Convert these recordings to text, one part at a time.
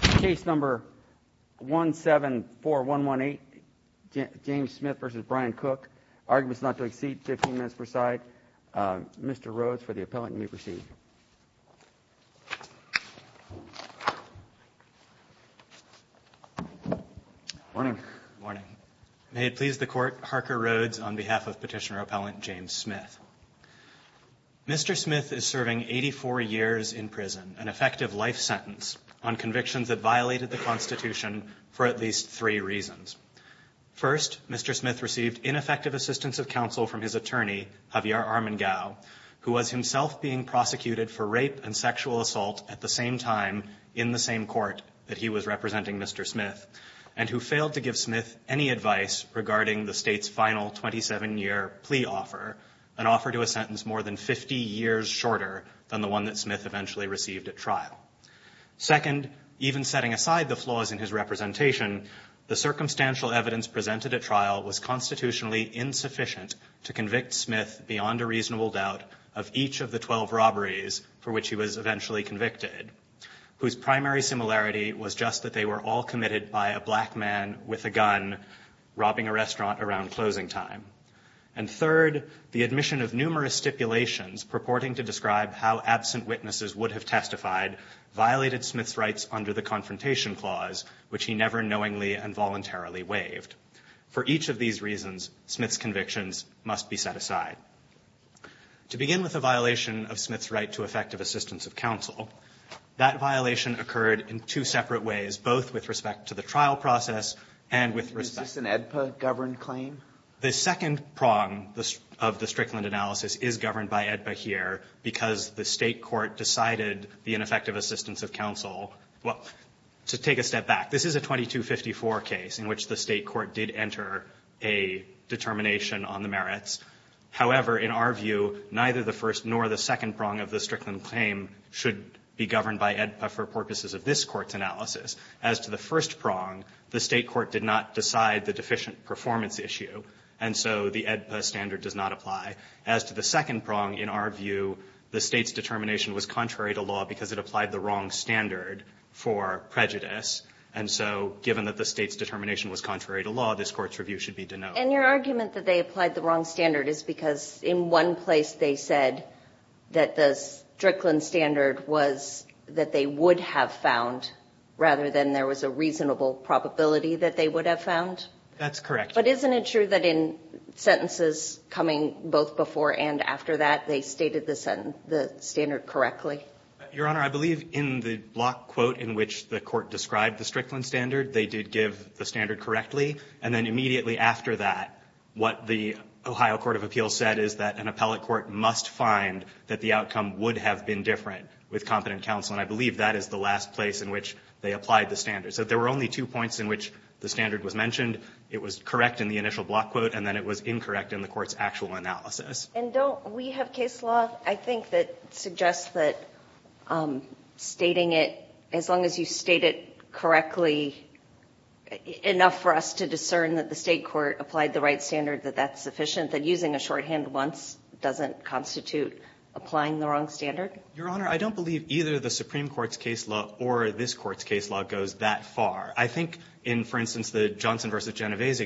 Case No. 174118, James Smith v. Brian Cook. Arguments not to exceed 15 minutes per side. Mr. Rhodes for the appellant. You may proceed. Morning. May it please the Court, Harker Rhodes on behalf of Petitioner-Appellant James Smith. Mr. Smith is serving 84 years in prison, an effective life sentence on convictions that violated the Constitution for at least three reasons. First, Mr. Smith received ineffective assistance of counsel from his attorney, Javier Armengau, who was himself being prosecuted for rape and sexual assault at the same time in the same court that he was representing Mr. Smith, and who failed to give Smith any advice regarding the state's final 27-year plea offer, an offer to a sentence more than 50 years shorter than the one that Smith eventually received at trial. Second, even setting aside the flaws in his representation, the circumstantial evidence presented at trial was constitutionally insufficient to convict Smith beyond a reasonable doubt of each of the 12 robberies for which he was eventually convicted, whose primary similarity was just that they were all committed by a black man with a gun robbing a restaurant around closing time. And third, the admission of numerous stipulations purporting to describe how absent witnesses would have testified violated Smith's rights under the Confrontation Clause, which he never knowingly and voluntarily waived. For each of these reasons, Smith's convictions must be set aside. To begin with the violation of Smith's right to effective assistance of counsel, that violation occurred in two separate ways, both with respect to the trial process and with respect to the statute of limitations. The second prong of the Strickland analysis is governed by AEDPA here, because the State court decided the ineffective assistance of counsel to take a step back. This is a 2254 case in which the State court did enter a determination on the merits. However, in our view, neither the first nor the second prong of the Strickland claim should be governed by AEDPA for purposes of this Court's analysis. As to the first prong, the State court did not decide the deficient performance issue, and so the AEDPA standard does not apply. As to the second prong, in our view, the State's determination was contrary to law because it applied the wrong standard for prejudice. And so given that the State's determination was contrary to law, this Court's review should be denoted. And your argument that they applied the wrong standard is because in one place they said that the Strickland standard was that they would have found, rather than there was a reasonable probability that they would have found? That's correct. But isn't it true that in sentences coming both before and after that, they stated the standard correctly? Your Honor, I believe in the block quote in which the Court described the Strickland standard, they did give the standard correctly. And then immediately after that, what the Ohio Court of Appeals said is that an appellate court must find that the outcome would have been different with competent counsel, and I believe that is the last place in which they applied the standard. So there were only two points in which the standard was mentioned. It was correct in the initial block quote, and then it was incorrect in the Court's actual analysis. And don't we have case law, I think, that suggests that stating it, as long as you state it correctly, enough for us to discern that the State court applied the right standard, that that's sufficient, that using a shorthand once doesn't constitute applying the wrong standard? Your Honor, I don't believe either the Supreme Court's case law or this Court's case law goes that far. I think in, for instance, the Johnson v. Genovese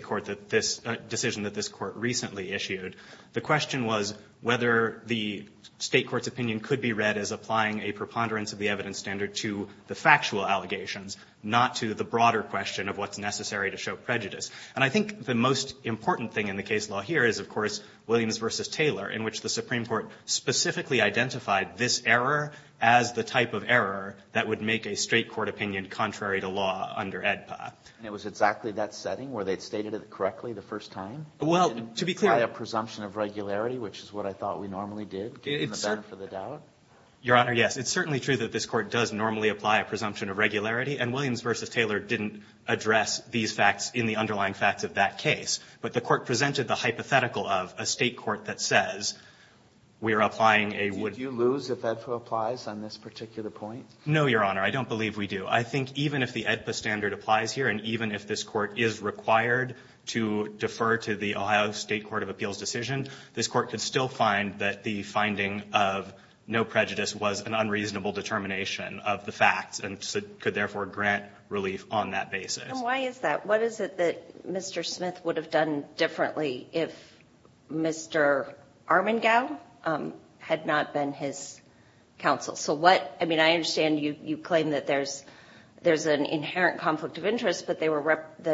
decision that this Court recently issued, the question was whether the State court's opinion could be read as applying a preponderance of the evidence standard to the factual allegations, not to the broader question of what's necessary to show prejudice. And I think the most important thing in the case law here is, of course, Williams v. Taylor, in which the Supreme Court specifically identified this error as the type of error that would make a State court opinion contrary to law under AEDPA. And it was exactly that setting where they had stated it correctly the first time? Well, to be clear. Didn't apply a presumption of regularity, which is what I thought we normally did, in the benefit of the doubt? Your Honor, yes. It's certainly true that this Court does normally apply a presumption of regularity. And Williams v. Taylor didn't address these facts in the underlying facts of that case. But the Court presented the hypothetical of a State court that says we are applying a wood. Did you lose if AEDPA applies on this particular point? No, Your Honor. I don't believe we do. I think even if the AEDPA standard applies here and even if this Court is required to defer to the Ohio State court of appeals decision, this Court could still find that the finding of no prejudice was an unreasonable determination of the facts and could therefore grant relief on that basis. And why is that? What is it that Mr. Smith would have done differently if Mr. Armengau had not been his counsel? So what – I mean, I understand you claim that there's an inherent conflict of interest, but they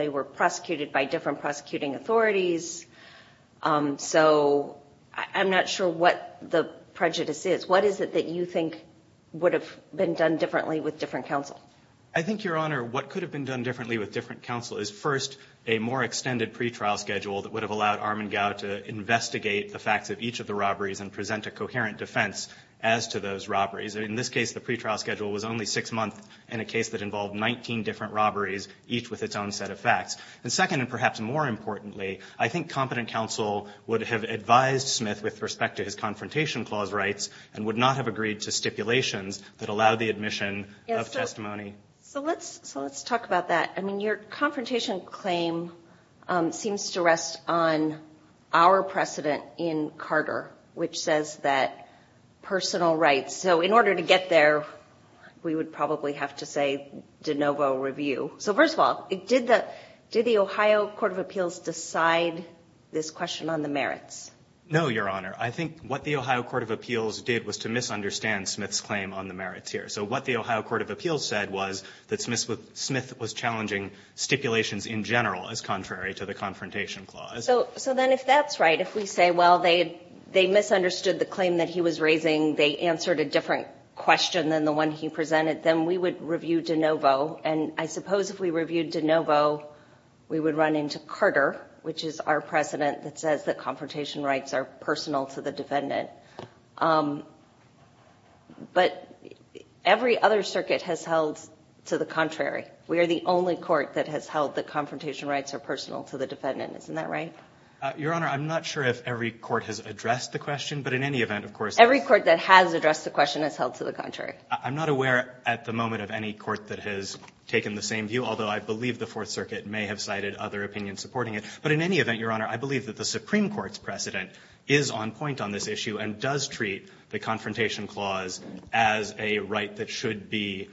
were prosecuted by different prosecuting authorities. So I'm not sure what the prejudice is. What is it that you think would have been done differently with different counsel? I think, Your Honor, what could have been done differently with different counsel is first a more extended pretrial schedule that would have allowed Armengau to investigate the facts of each of the robberies and present a coherent defense as to those robberies. In this case, the pretrial schedule was only six months in a case that involved 19 different robberies, each with its own set of facts. And second, and perhaps more importantly, I think competent counsel would have advised Smith with respect to his confrontation clause rights and would not have agreed to stipulations that allowed the admission of testimony. So let's talk about that. I mean, your confrontation claim seems to rest on our precedent in Carter, which says that personal rights – so in order to get there, we would probably have to say de novo review. So first of all, did the – did the Ohio Court of Appeals decide this question on the merits? No, Your Honor. I think what the Ohio Court of Appeals did was to misunderstand Smith's claim on the merits here. So what the Ohio Court of Appeals said was that Smith was challenging stipulations in general as contrary to the confrontation clause. So then if that's right, if we say, well, they misunderstood the claim that he was raising, they answered a different question than the one he presented, then we would review de novo. And I suppose if we reviewed de novo, we would run into Carter, which is our precedent that says that confrontation rights are personal to the defendant. But every other circuit has held to the contrary. We are the only court that has held that confrontation rights are personal to the defendant. Isn't that right? Your Honor, I'm not sure if every court has addressed the question, but in any event, of course – Every court that has addressed the question has held to the contrary. I'm not aware at the moment of any court that has taken the same view, although I believe the Fourth Circuit may have cited other opinions supporting it. But in any event, Your Honor, I believe that the Supreme Court's precedent is on point on this issue and does treat the confrontation clause as a right that should be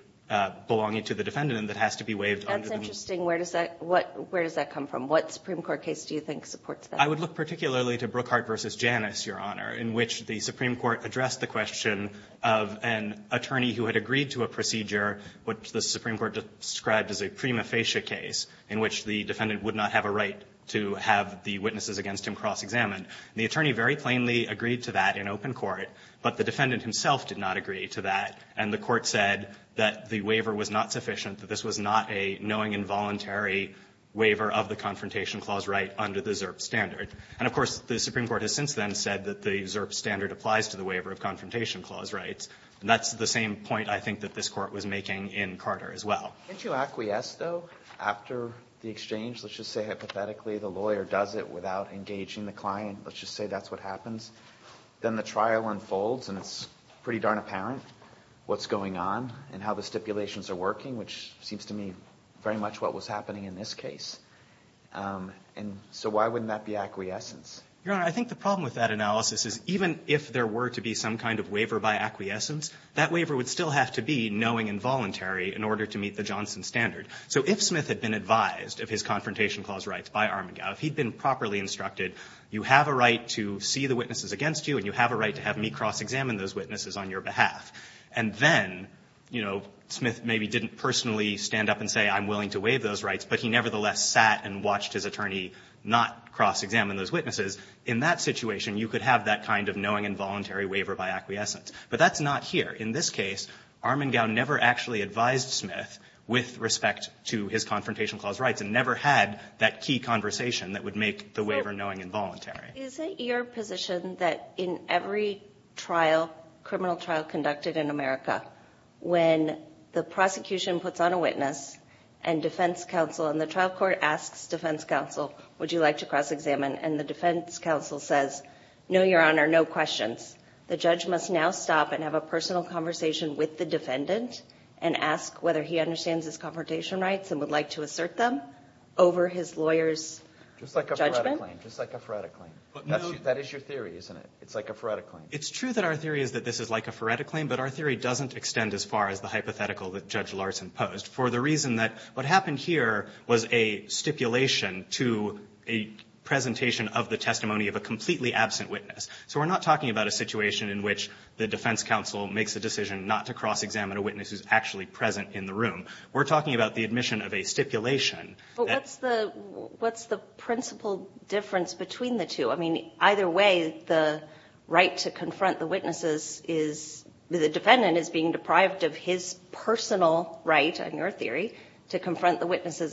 belonging to the defendant and that has to be waived under the new law. That's interesting. Where does that come from? What Supreme Court case do you think supports that? I would look particularly to Brookhart v. Janus, Your Honor, in which the Supreme Court had an attorney who had agreed to a procedure which the Supreme Court described as a prima facie case in which the defendant would not have a right to have the witnesses against him cross-examined. The attorney very plainly agreed to that in open court, but the defendant himself did not agree to that, and the Court said that the waiver was not sufficient, that this was not a knowing involuntary waiver of the confrontation clause right under the ZERP standard. And of course, the Supreme Court has since then said that the ZERP standard applies to the waiver of confrontation clause rights. And that's the same point I think that this Court was making in Carter as well. Can't you acquiesce, though, after the exchange? Let's just say hypothetically the lawyer does it without engaging the client. Let's just say that's what happens. Then the trial unfolds and it's pretty darn apparent what's going on and how the stipulations are working, which seems to me very much what was happening in this case. And so why wouldn't that be acquiescence? Your Honor, I think the problem with that analysis is even if there were to be some kind of waiver by acquiescence, that waiver would still have to be knowing involuntary in order to meet the Johnson standard. So if Smith had been advised of his confrontation clause rights by Armengau, if he'd been properly instructed, you have a right to see the witnesses against you and you have a right to have me cross-examine those witnesses on your behalf, and then, you know, Smith maybe didn't personally stand up and say I'm willing to waive those rights, but he nevertheless sat and watched his attorney not cross-examine those witnesses, in that situation you could have that kind of knowing involuntary waiver by acquiescence. But that's not here. In this case, Armengau never actually advised Smith with respect to his confrontation clause rights and never had that key conversation that would make the waiver knowing involuntary. So is it your position that in every trial, criminal trial conducted in America, when the prosecution puts on a witness and defense counsel and the trial court asks defense counsel, would you like to cross-examine, and the defense counsel says, no, Your Honor, no questions. The judge must now stop and have a personal conversation with the defendant and ask whether he understands his confrontation rights and would like to assert them over his lawyer's judgment? Just like a Feretta claim. Just like a Feretta claim. That is your theory, isn't it? It's like a Feretta claim. It's true that our theory is that this is like a Feretta claim, but our theory doesn't extend as far as the hypothetical that Judge Larson posed for the reason that what happened here was a stipulation to a presentation of the testimony of a completely absent witness. So we're not talking about a situation in which the defense counsel makes a decision not to cross-examine a witness who's actually present in the room. We're talking about the admission of a stipulation. But what's the principle difference between the two? I mean, either way, the right to confront the witnesses is the defendant is being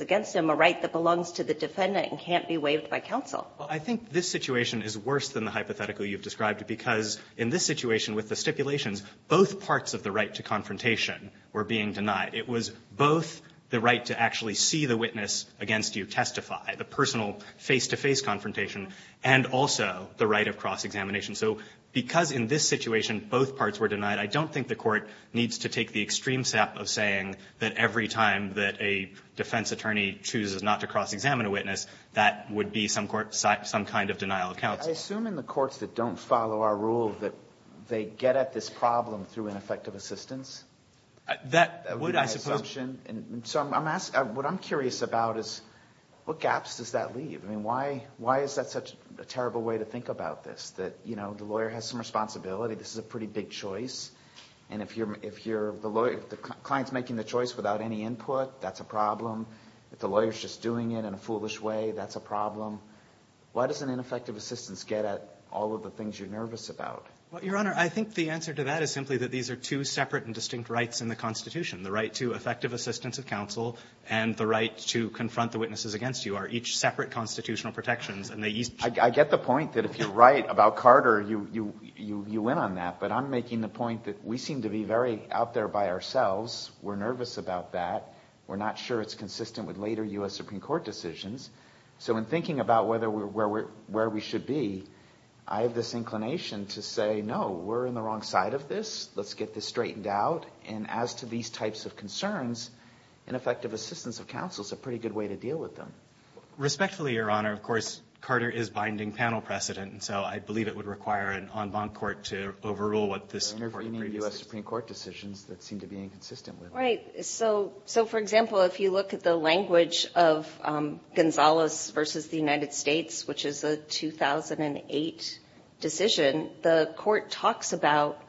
against him, a right that belongs to the defendant and can't be waived by counsel. Well, I think this situation is worse than the hypothetical you've described because in this situation with the stipulations, both parts of the right to confrontation were being denied. It was both the right to actually see the witness against you testify, the personal face-to-face confrontation, and also the right of cross-examination. So because in this situation both parts were denied, I don't think the Court needs to take the extreme step of saying that every time that a defense attorney chooses not to cross-examine a witness, that would be some kind of denial of counsel. I assume in the courts that don't follow our rule that they get at this problem through ineffective assistance? That would, I suppose. So what I'm curious about is what gaps does that leave? I mean, why is that such a terrible way to think about this, that, you know, the lawyer has some responsibility, this is a pretty big choice, and if the client's making the choice without any input, that's a problem. If the lawyer's just doing it in a foolish way, that's a problem. Why doesn't ineffective assistance get at all of the things you're nervous about? Well, Your Honor, I think the answer to that is simply that these are two separate and distinct rights in the Constitution, the right to effective assistance of counsel and the right to confront the witnesses against you are each separate constitutional protections. I get the point that if you're right about Carter, you win on that, but I'm making the point that we seem to be very out there by ourselves. We're nervous about that. We're not sure it's consistent with later U.S. Supreme Court decisions. So in thinking about where we should be, I have this inclination to say, no, we're in the wrong side of this, let's get this straightened out, and as to these types of concerns, ineffective assistance of counsel is a pretty good way to deal with them. Respectfully, Your Honor, of course, Carter is binding panel precedent, and so I believe it would require an en banc court to overrule what this Court of Appeals says. Your Honor, for any U.S. Supreme Court decisions that seem to be inconsistent with it. Right. So, for example, if you look at the language of Gonzales v. the United States, which is a 2008 decision, the Court talks about,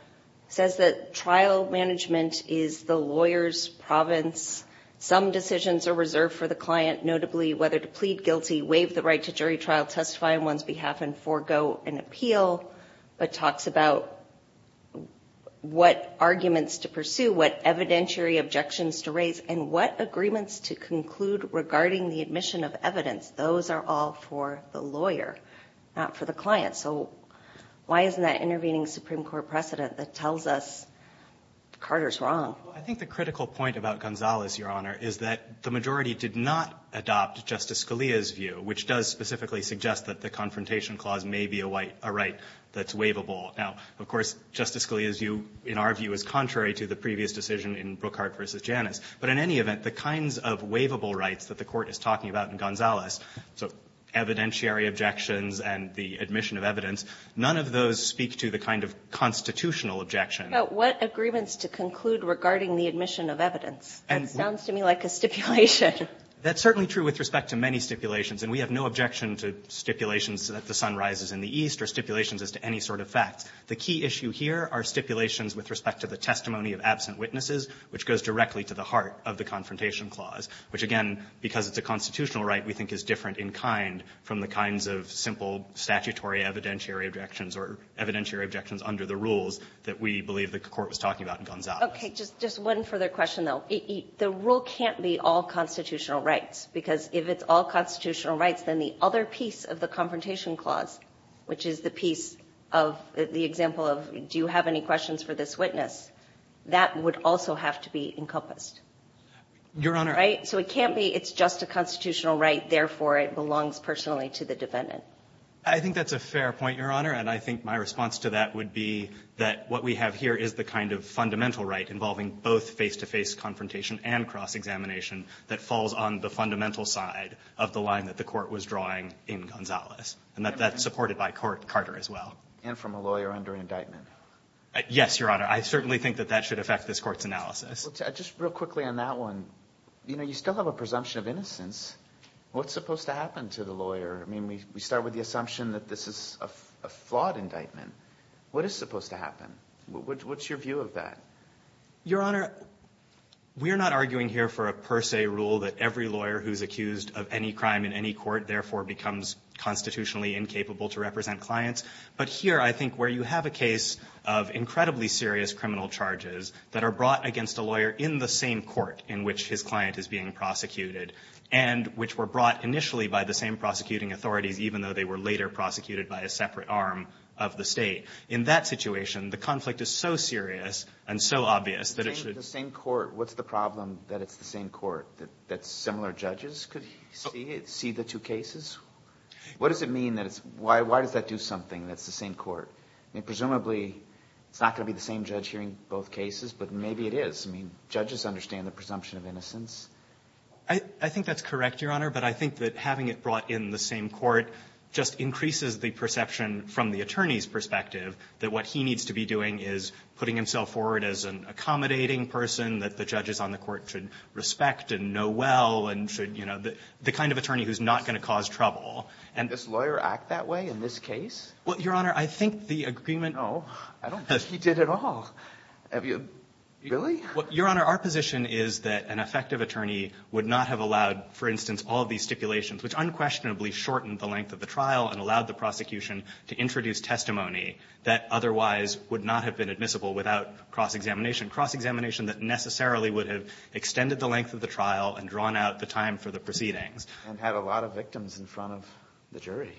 says that trial management is the lawyer's province. Some decisions are reserved for the client, notably whether to plead guilty, waive the right to jury trial, testify on one's behalf, and forego an appeal, but talks about what arguments to pursue, what evidentiary objections to raise, and what agreements to conclude regarding the admission of evidence. Those are all for the lawyer, not for the client. So why isn't that intervening Supreme Court precedent that tells us Carter's wrong? Well, I think the critical point about Gonzales, Your Honor, is that the majority did not adopt Justice Scalia's view, which does specifically suggest that the confrontation clause may be a right that's waivable. Now, of course, Justice Scalia's view, in our view, is contrary to the previous decision in Brookhart v. Janus, but in any event, the kinds of waivable rights that the Court is talking about in Gonzales, so evidentiary objections and the admission of evidence, none of those speak to the kind of constitutional objection. But what agreements to conclude regarding the admission of evidence? That sounds to me like a stipulation. That's certainly true with respect to many stipulations, and we have no objection to stipulations that the sun rises in the east or stipulations as to any sort of facts. The key issue here are stipulations with respect to the testimony of absent witnesses, which goes directly to the heart of the confrontation clause, which, again, because it's a constitutional right, we think is different in kind from the kinds of simple statutory evidentiary objections or evidentiary objections under the rules that we believe the Court was talking about in Gonzales. Okay. Just one further question, though. The rule can't be all constitutional rights, because if it's all constitutional rights, then the other piece of the confrontation clause, which is the piece of the example of do you have any questions for this witness, that would also have to be encompassed. Your Honor. Right? So it can't be it's just a constitutional right, therefore it belongs personally to the defendant. I think that's a fair point, Your Honor, and I think my response to that would be that what we have here is the kind of fundamental right involving both face-to-face confrontation and cross-examination that falls on the fundamental side of the line that the Court was drawing in Gonzales, and that that's supported by Carter as well. And from a lawyer under indictment. Yes, Your Honor. I certainly think that that should affect this Court's analysis. Just real quickly on that one, you know, you still have a presumption of innocence. What's supposed to happen to the lawyer? I mean, we start with the assumption that this is a flawed indictment. What is supposed to happen? What's your view of that? Your Honor, we're not arguing here for a per se rule that every lawyer who's accused of any crime in any court therefore becomes constitutionally incapable to represent clients. But here I think where you have a case of incredibly serious criminal charges that are brought against a lawyer in the same court in which his client is being prosecuted, and which were brought initially by the same prosecuting authorities even though they were later prosecuted by a separate arm of the State. In that situation, the conflict is so serious and so obvious that it should The same court. What's the problem that it's the same court? That similar judges could see it, see the two cases? What does it mean that it's why does that do something that's the same court? I mean, presumably it's not going to be the same judge hearing both cases, but maybe it is. I think that's correct, Your Honor. But I think that having it brought in the same court just increases the perception from the attorney's perspective that what he needs to be doing is putting himself forward as an accommodating person that the judges on the court should respect and know well and should, you know, the kind of attorney who's not going to cause trouble. And does this lawyer act that way in this case? Well, Your Honor, I think the agreement No, I don't think he did at all. Really? Your Honor, our position is that an effective attorney would not have allowed, for instance, all these stipulations, which unquestionably shortened the length of the trial and allowed the prosecution to introduce testimony that otherwise would not have been admissible without cross-examination, cross-examination that necessarily would have extended the length of the trial and drawn out the time for the proceedings. And had a lot of victims in front of the jury.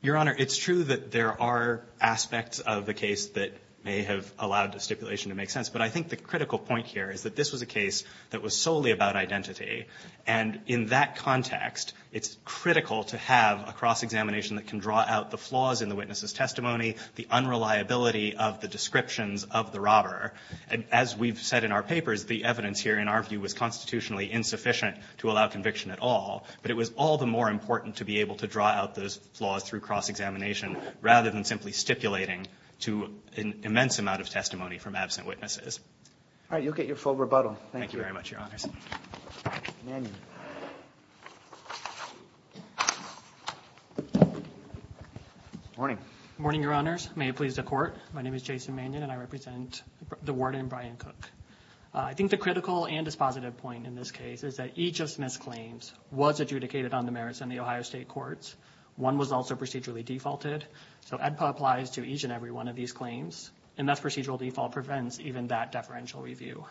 Your Honor, it's true that there are aspects of the case that may have allowed the stipulation to make sense, but I think the critical point here is that this was a case that was solely about identity. And in that context, it's critical to have a cross-examination that can draw out the flaws in the witness's testimony, the unreliability of the descriptions of the robber. As we've said in our papers, the evidence here, in our view, was constitutionally insufficient to allow conviction at all. But it was all the more important to be able to draw out those flaws through cross-examination rather than simply stipulating to an immense amount of testimony from absent witnesses. All right. You'll get your full rebuttal. Thank you. Thank you very much, Your Honors. Mannion. Morning. Morning, Your Honors. May it please the Court. My name is Jason Mannion, and I represent the warden, Brian Cook. I think the critical and dispositive point in this case is that each of Smith's claims was adjudicated on the merits in the Ohio State Courts. One was also procedurally defaulted. So AEDPA applies to each and every one of these claims. And that procedural default prevents even that deferential review.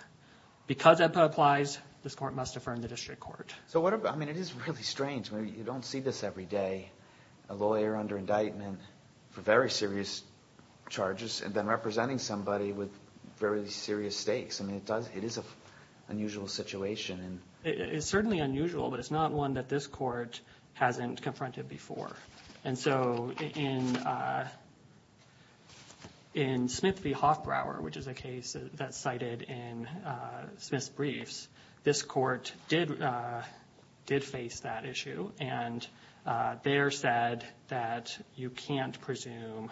Because AEDPA applies, this Court must affirm the district court. So what about – I mean, it is really strange. You don't see this every day, a lawyer under indictment for very serious charges and then representing somebody with very serious stakes. I mean, it is an unusual situation. It's certainly unusual, but it's not one that this Court hasn't confronted before. And so in Smith v. Hoffbrauer, which is a case that's cited in Smith's briefs, this Court did face that issue. And there said that you can't presume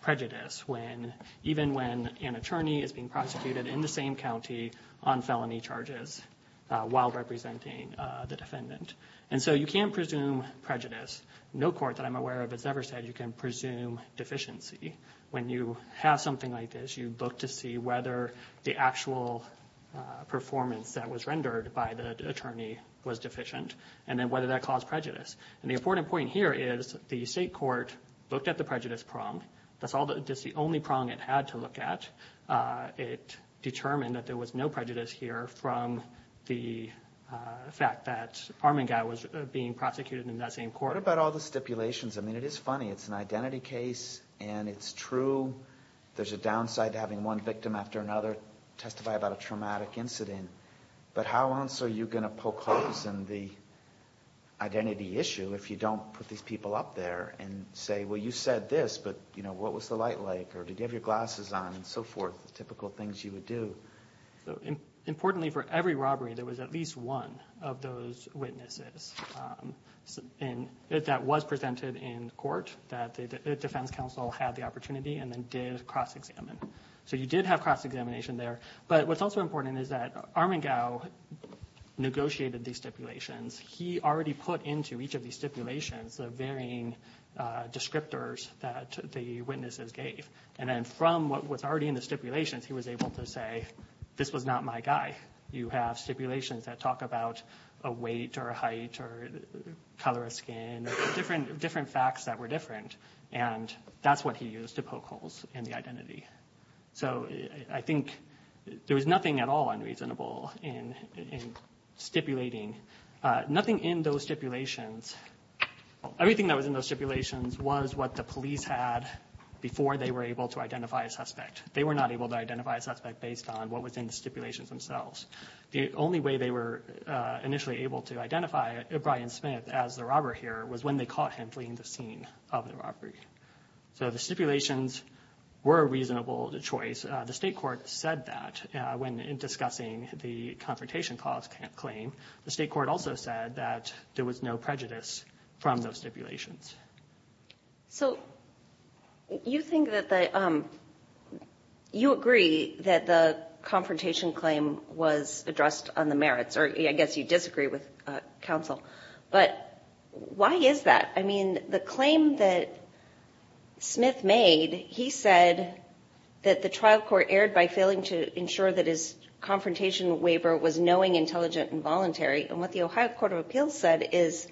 prejudice when – even when an attorney is being prosecuted in the same county on felony charges while representing the defendant. And so you can't presume prejudice. No court that I'm aware of has ever said you can presume deficiency when you have something like this. You look to see whether the actual performance that was rendered by the attorney was deficient and then whether that caused prejudice. And the important point here is the State Court looked at the prejudice prong. That's the only prong it had to look at. It determined that there was no prejudice here from the fact that Armengau was being prosecuted in that same court. What about all the stipulations? I mean, it is funny. It's an identity case, and it's true. There's a downside to having one victim after another testify about a traumatic incident. But how else are you going to poke holes in the identity issue if you don't put these people up there and say, well, you said this, but what was the light like, or did you have your glasses on, and so forth, the typical things you would do? Importantly, for every robbery, there was at least one of those witnesses that was presented in court that the defense counsel had the opportunity and then did cross-examine. So you did have cross-examination there. But what's also important is that Armengau negotiated these stipulations. He already put into each of these stipulations the varying descriptors that the witnesses gave. And then from what was already in the stipulations, he was able to say, this was not my guy. You have stipulations that talk about a weight or a height or color of skin, different facts that were different. And that's what he used to poke holes in the identity. So I think there was nothing at all unreasonable in stipulating, nothing in those stipulations. Everything that was in those stipulations was what the police had before they were able to identify a suspect. They were not able to identify a suspect based on what was in the stipulations themselves. The only way they were initially able to identify Brian Smith as the robber here was when they caught him fleeing the scene of the robbery. So the stipulations were a reasonable choice. The state court said that when discussing the Confrontation Clause claim. The state court also said that there was no prejudice from those stipulations. So you agree that the Confrontation Claim was addressed on the merits, or I guess you disagree with counsel. But why is that? I mean, the claim that Smith made, he said that the trial court erred by failing to ensure that his Confrontation Waiver was knowing, intelligent, and voluntary. And what the Ohio Court of Appeals said is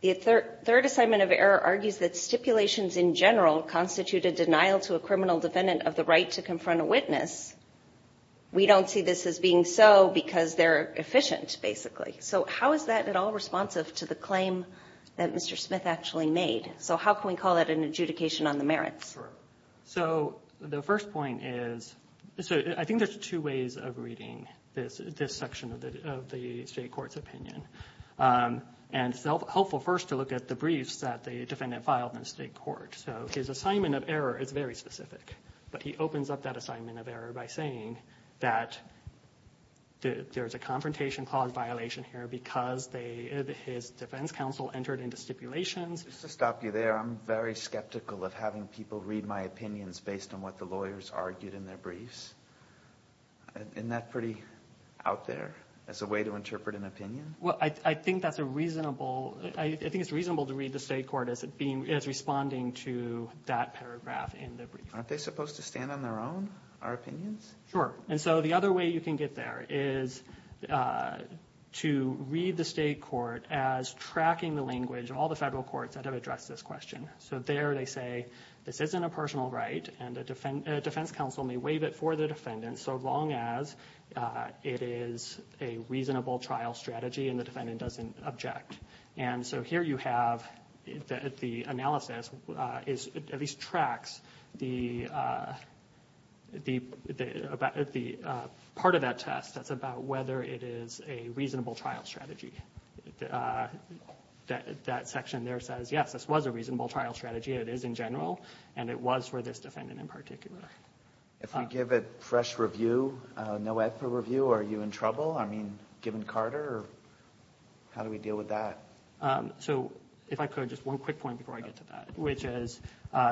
the third assignment of error argues that stipulations in general constitute a denial to a criminal defendant of the right to confront a witness. We don't see this as being so because they're efficient, basically. So how is that at all responsive to the claim that Mr. Smith actually made? So how can we call that an adjudication on the merits? So the first point is, I think there's two ways of reading this section of the state court's opinion. And it's helpful first to look at the briefs that the defendant filed in the state court. So his assignment of error is very specific. But he opens up that assignment of error by saying that there's a Confrontation Clause violation here because his defense counsel entered into stipulations. Just to stop you there, I'm very skeptical of having people read my opinions based on what the lawyers argued in their briefs. Isn't that pretty out there as a way to interpret an opinion? Well, I think that's a reasonable, I think it's reasonable to read the state court as responding to that paragraph in the brief. Aren't they supposed to stand on their own, our opinions? Sure. And so the other way you can get there is to read the state court as tracking the language of all the federal courts that have addressed this question. So there they say, this isn't a personal right, and a defense counsel may waive it for the defendant so long as it is a reasonable trial strategy and the defendant doesn't object. And so here you have the analysis at least tracks the part of that test that's about whether it is a reasonable trial strategy. That section there says, yes, this was a reasonable trial strategy, it is in general, and it was for this defendant in particular. If we give it fresh review, no effort review, are you in trouble? I mean, given Carter, how do we deal with that? So if I could, just one quick point before I get to that, which is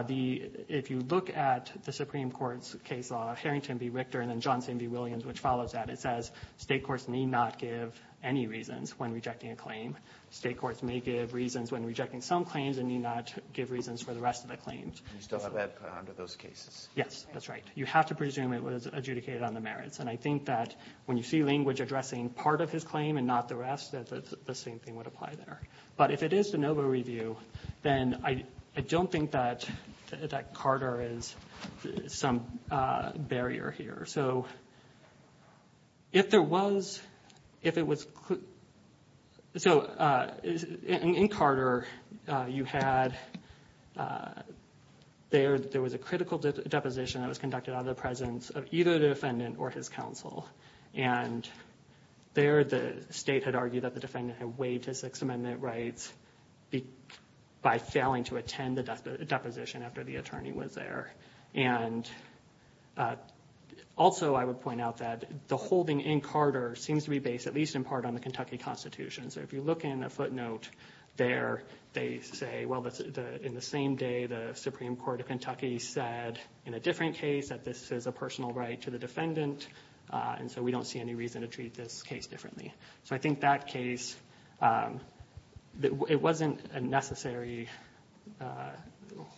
if you look at the Supreme Court's case law, Harrington v. Richter and then Johnson v. Williams, which follows that, it says state courts need not give any reasons when rejecting a claim. State courts may give reasons when rejecting some claims and need not give reasons for the rest of the claims. You still have that under those cases. Yes, that's right. You have to presume it was adjudicated on the merits. And I think that when you see language addressing part of his claim and not the rest, that the same thing would apply there. But if it is de novo review, then I don't think that Carter is some barrier here. So if there was, if it was, so in Carter you had, there was a critical deposition that was conducted out of the presence of either the defendant or his counsel. And there the state had argued that the defendant had waived his Sixth Amendment rights by failing to attend the deposition after the attorney was there. And also I would point out that the holding in Carter seems to be based, at least in part, on the Kentucky Constitution. So if you look in the footnote there, they say, well, in the same day, the Supreme Court of Kentucky said in a different case that this is a personal right to the defendant. And so we don't see any reason to treat this case differently. So I think that case, it wasn't a necessary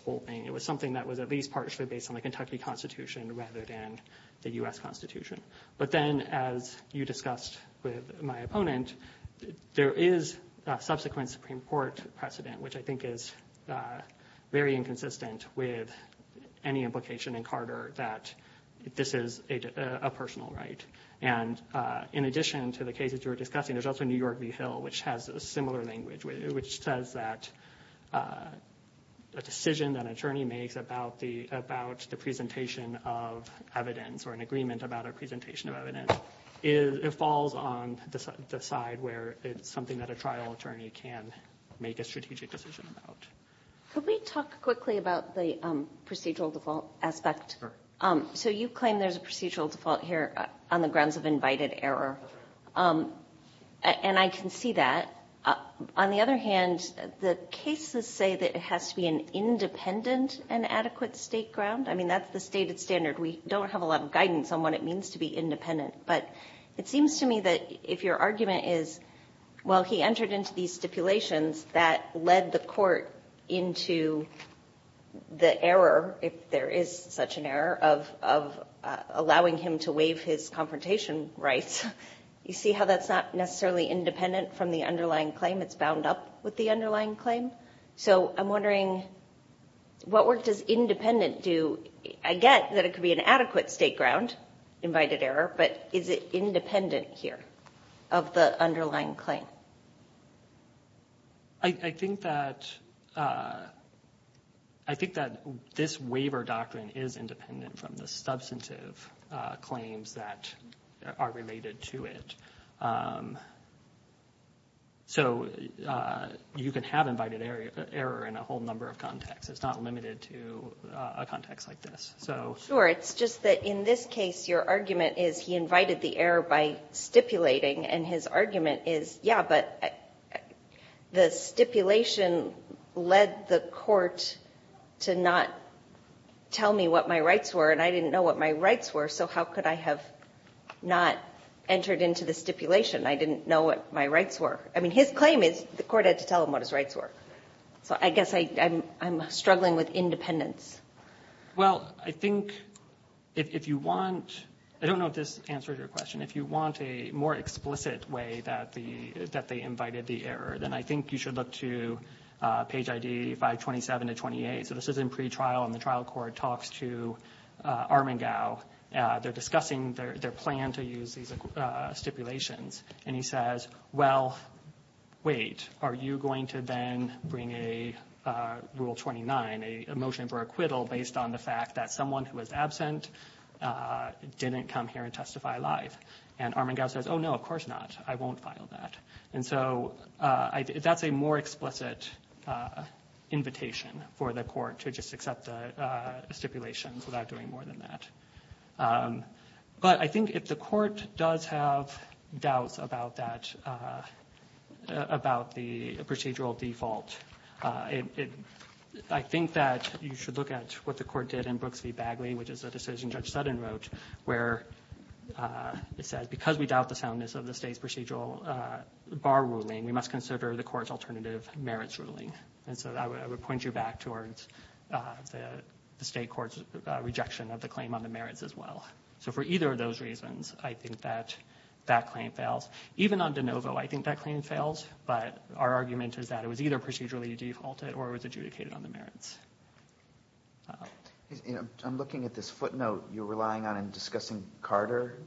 holding. It was something that was at least partially based on the Kentucky Constitution rather than the U.S. Constitution. But then as you discussed with my opponent, there is a subsequent Supreme Court precedent, which I think is very inconsistent with any implication in Carter that this is a personal right. And in addition to the cases you were discussing, there's also New York v. Hill, which has a similar language, which says that a decision that an attorney makes about the presentation of evidence or an agreement about a presentation of evidence, it falls on the side where it's something that a trial attorney can make a strategic decision about. Could we talk quickly about the procedural default aspect? So you claim there's a procedural default here on the grounds of invited error. And I can see that. On the other hand, the cases say that it has to be an independent and adequate state ground. I mean, that's the stated standard. We don't have a lot of guidance on what it means to be independent. But it seems to me that if your argument is, well, he entered into these stipulations that led the court into the error, if there is such an error, of allowing him to waive his confrontation rights, you see how that's not necessarily independent from the underlying claim. It's bound up with the underlying claim. So I'm wondering, what work does independent do? I get that it could be an adequate state ground, invited error, but is it independent here of the underlying claim? I think that this waiver doctrine is independent from the substantive claims that are related to it. So you can have invited error in a whole number of contexts. It's not limited to a context like this. Sure. It's just that in this case, your argument is he invited the error by stipulating. And his argument is, yeah, but the stipulation led the court to not tell me what my rights were, and I didn't know what my rights were, so how could I have not entered into the stipulation? I didn't know what my rights were. I mean, his claim is the court had to tell him what his rights were. So I guess I'm struggling with independence. Well, I think if you want to ‑‑ I don't know if this answers your question. If you want a more explicit way that they invited the error, then I think you should look to page ID 527 to 28. So this is in pretrial, and the trial court talks to Armengau. They're discussing their plan to use these stipulations. And he says, well, wait, are you going to then bring a Rule 29, a motion for acquittal, based on the fact that someone who was absent didn't come here and testify live? And Armengau says, oh, no, of course not. I won't file that. And so that's a more explicit invitation for the court to just accept the stipulations without doing more than that. But I think if the court does have doubts about that, about the procedural default, I think that you should look at what the court did in Brooks v. Bagley, which is a decision Judge Sutton wrote, where it says because we doubt the soundness of the state's procedural bar ruling, we must consider the court's alternative merits ruling. And so I would point you back towards the state court's rejection of the claim on the merits as well. So for either of those reasons, I think that that claim fails. Even on De Novo, I think that claim fails. But our argument is that it was either procedurally defaulted or it was adjudicated on the merits. I'm looking at this footnote you're relying on in discussing Carter.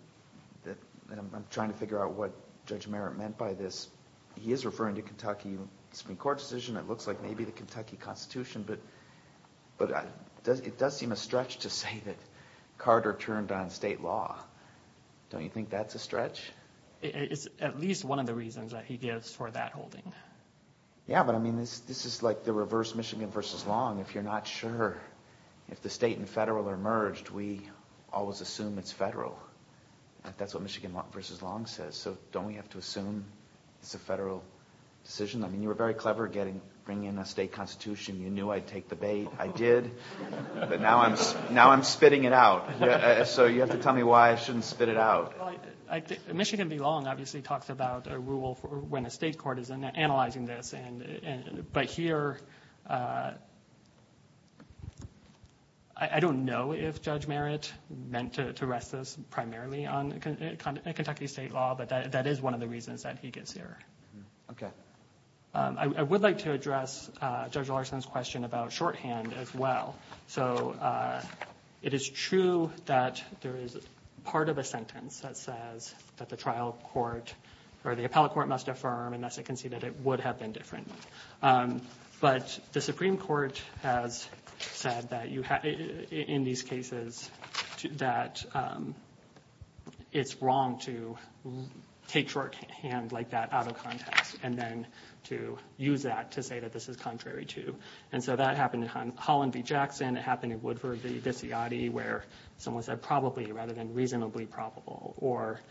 I'm trying to figure out what Judge Merritt meant by this. He is referring to Kentucky Supreme Court decision. It looks like maybe the Kentucky Constitution. But it does seem a stretch to say that Carter turned on state law. Don't you think that's a stretch? It's at least one of the reasons that he gives for that holding. Yeah, but I mean this is like the reverse Michigan v. Long. If you're not sure, if the state and federal are merged, we always assume it's federal. That's what Michigan v. Long says. So don't we have to assume it's a federal decision? I mean you were very clever bringing in a state constitution. You knew I'd take the bait. I did. But now I'm spitting it out. So you have to tell me why I shouldn't spit it out. Michigan v. Long obviously talks about a rule when a state court is analyzing this. But here, I don't know if Judge Merritt meant to rest this primarily on Kentucky state law. But that is one of the reasons that he gets here. Okay. I would like to address Judge Larson's question about shorthand as well. So it is true that there is part of a sentence that says that the trial court or the appellate court must affirm, and thus it can see that it would have been different. But the Supreme Court has said in these cases that it's wrong to take shorthand like that out of context and then to use that to say that this is contrary to. And so that happened in Holland v. Jackson. It happened in Woodford v. Viziotti where someone said probably rather than reasonably probable, or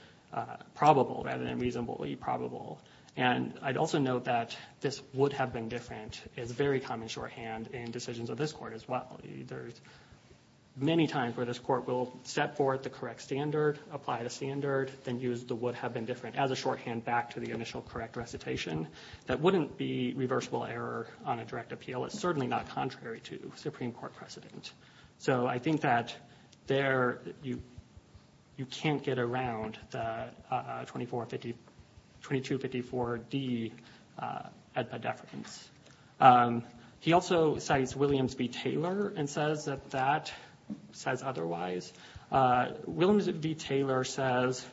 probable rather than reasonably probable. And I'd also note that this would have been different is very common shorthand in decisions of this court as well. There's many times where this court will set forth the correct standard, apply the standard, then use the would have been different as a shorthand back to the initial correct recitation. That wouldn't be reversible error on a direct appeal. It's certainly not contrary to Supreme Court precedent. So I think that there you can't get around the 2254D edpa deference. He also cites Williams v. Taylor and says that that says otherwise. Williams v. Taylor says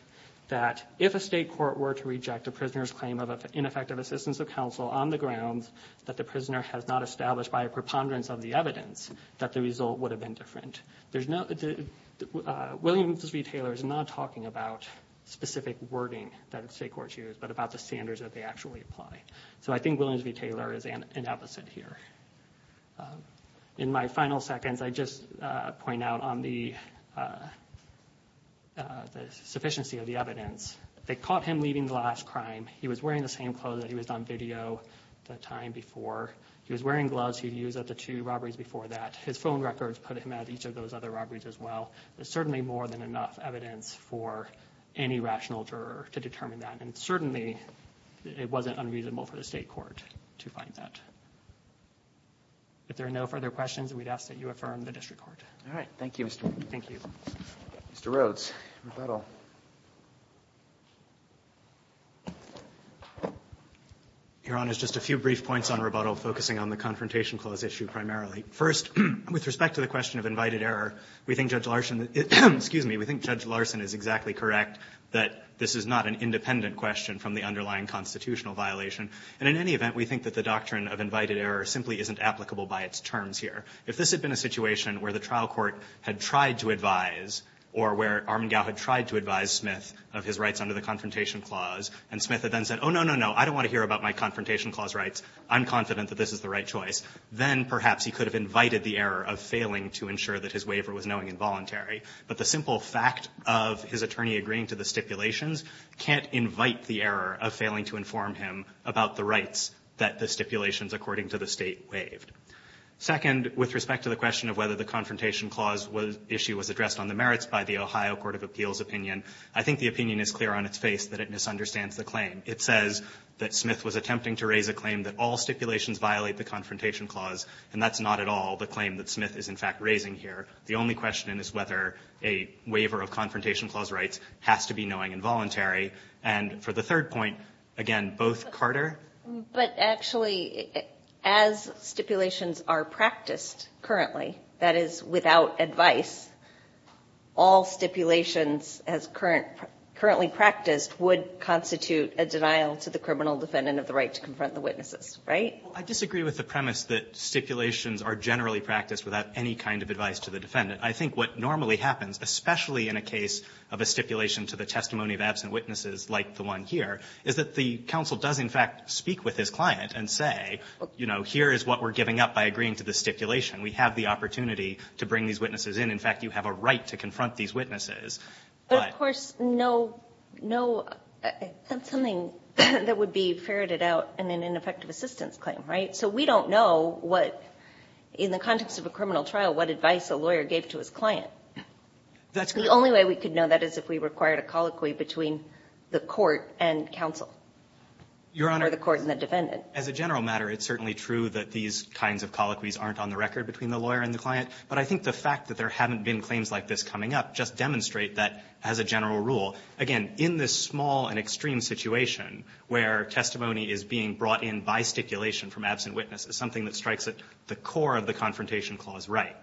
that if a state court were to reject a prisoner's claim of ineffective assistance of counsel on the grounds that the prisoner has not established by a preponderance of the evidence that the result would have been different. Williams v. Taylor is not talking about specific wording that state courts use but about the standards that they actually apply. So I think Williams v. Taylor is an opposite here. In my final seconds, I just point out on the sufficiency of the evidence. They caught him leaving the last crime. He was wearing the same clothes that he was on video the time before. He was wearing gloves he'd used at the two robberies before that. His phone records put him at each of those other robberies as well. There's certainly more than enough evidence for any rational juror to determine that, and certainly it wasn't unreasonable for the state court to find that. If there are no further questions, we'd ask that you affirm the district court. All right. Thank you, Mr. Rhoads. Thank you. Mr. Rhoads, rebuttal. Your Honor, just a few brief points on rebuttal, focusing on the Confrontation Clause issue primarily. First, with respect to the question of invited error, we think Judge Larson is exactly correct that this is not an independent question from the underlying constitutional violation. And in any event, we think that the doctrine of invited error simply isn't applicable by its terms here. If this had been a situation where the trial court had tried to advise, or where Armengau had tried to advise Smith of his rights under the Confrontation Clause, and Smith had then said, oh, no, no, no, I don't want to hear about my Confrontation Clause rights, I'm confident that this is the right choice, then perhaps he could have invited the error of failing to ensure that his waiver was knowing and voluntary. But the simple fact of his attorney agreeing to the stipulations can't invite the error of failing to inform him about the rights that the stipulations according to the state waived. Second, with respect to the question of whether the Confrontation Clause issue was addressed on the merits by the Ohio Court of Appeals opinion, I think the opinion is clear on its face that it misunderstands the claim. It says that Smith was attempting to raise a claim that all stipulations violate the Confrontation Clause, and that's not at all the claim that Smith is, in fact, raising here. The only question is whether a waiver of Confrontation Clause rights has to be knowing and voluntary. And for the third point, again, both Carter. But actually, as stipulations are practiced currently, that is, without advice, all stipulations as currently practiced would constitute a denial to the criminal defendant of the right to confront the witnesses, right? Well, I disagree with the premise that stipulations are generally practiced without any kind of advice to the defendant. I think what normally happens, especially in a case of a stipulation to the testimony of absent witnesses like the one here, is that the counsel does in fact speak with his client and say, you know, here is what we're giving up by agreeing to the stipulation. We have the opportunity to bring these witnesses in. In fact, you have a right to confront these witnesses. But of course, no, no, that's something that would be ferreted out in an ineffective assistance claim, right? So we don't know what, in the context of a criminal trial, what advice a lawyer gave to his client. That's correct. The only way we could know that is if we required a colloquy between the court and counsel. Your Honor. Or the court and the defendant. As a general matter, it's certainly true that these kinds of colloquies aren't on the record between the lawyer and the client. But I think the fact that there haven't been claims like this coming up just demonstrate that, as a general rule, again, in this small and extreme situation where testimony is being brought in by stipulation from absent witnesses, something that strikes at the core of the Confrontation Clause right,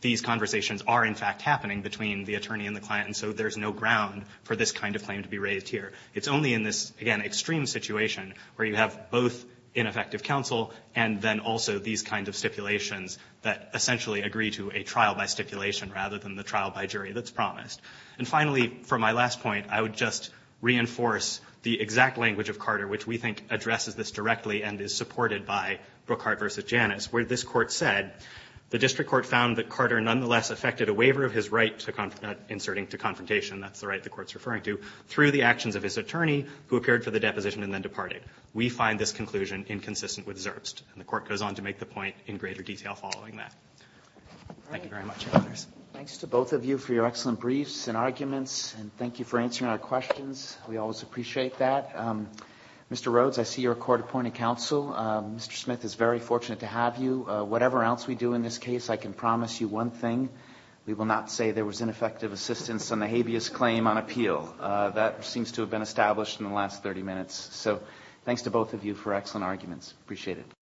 these conversations are, in fact, happening between the attorney and the client. And so there's no ground for this kind of claim to be raised here. It's only in this, again, extreme situation where you have both ineffective counsel and then also these kinds of stipulations that essentially agree to a trial by stipulation rather than the trial by jury that's promised. And finally, for my last point, I would just reinforce the exact language of Carter, which we think addresses this directly and is supported by Brookhart v. Janus, where this Court said, the district court found that Carter nonetheless effected a waiver of his right to confrontation, not inserting to confrontation, that's the right the Court's referring to, through the actions of his attorney who appeared for the deposition and then departed. We find this conclusion inconsistent with Zerbst. And the Court goes on to make the point in greater detail following that. Thank you very much, your Honors. Roberts. Roberts. Thanks to both of you for your excellent briefs and arguments and thank you for answering our questions. We always appreciate that. Mr. Rhodes, I see you're a court-appointed counsel. Mr. Smith is very fortunate to have you. Whatever else we do in this case, I can promise you one thing. We will not say there was ineffective assistance on the habeas claim on appeal. That seems to have been established in the last 30 minutes. So thanks to both of you for excellent arguments. Appreciate it.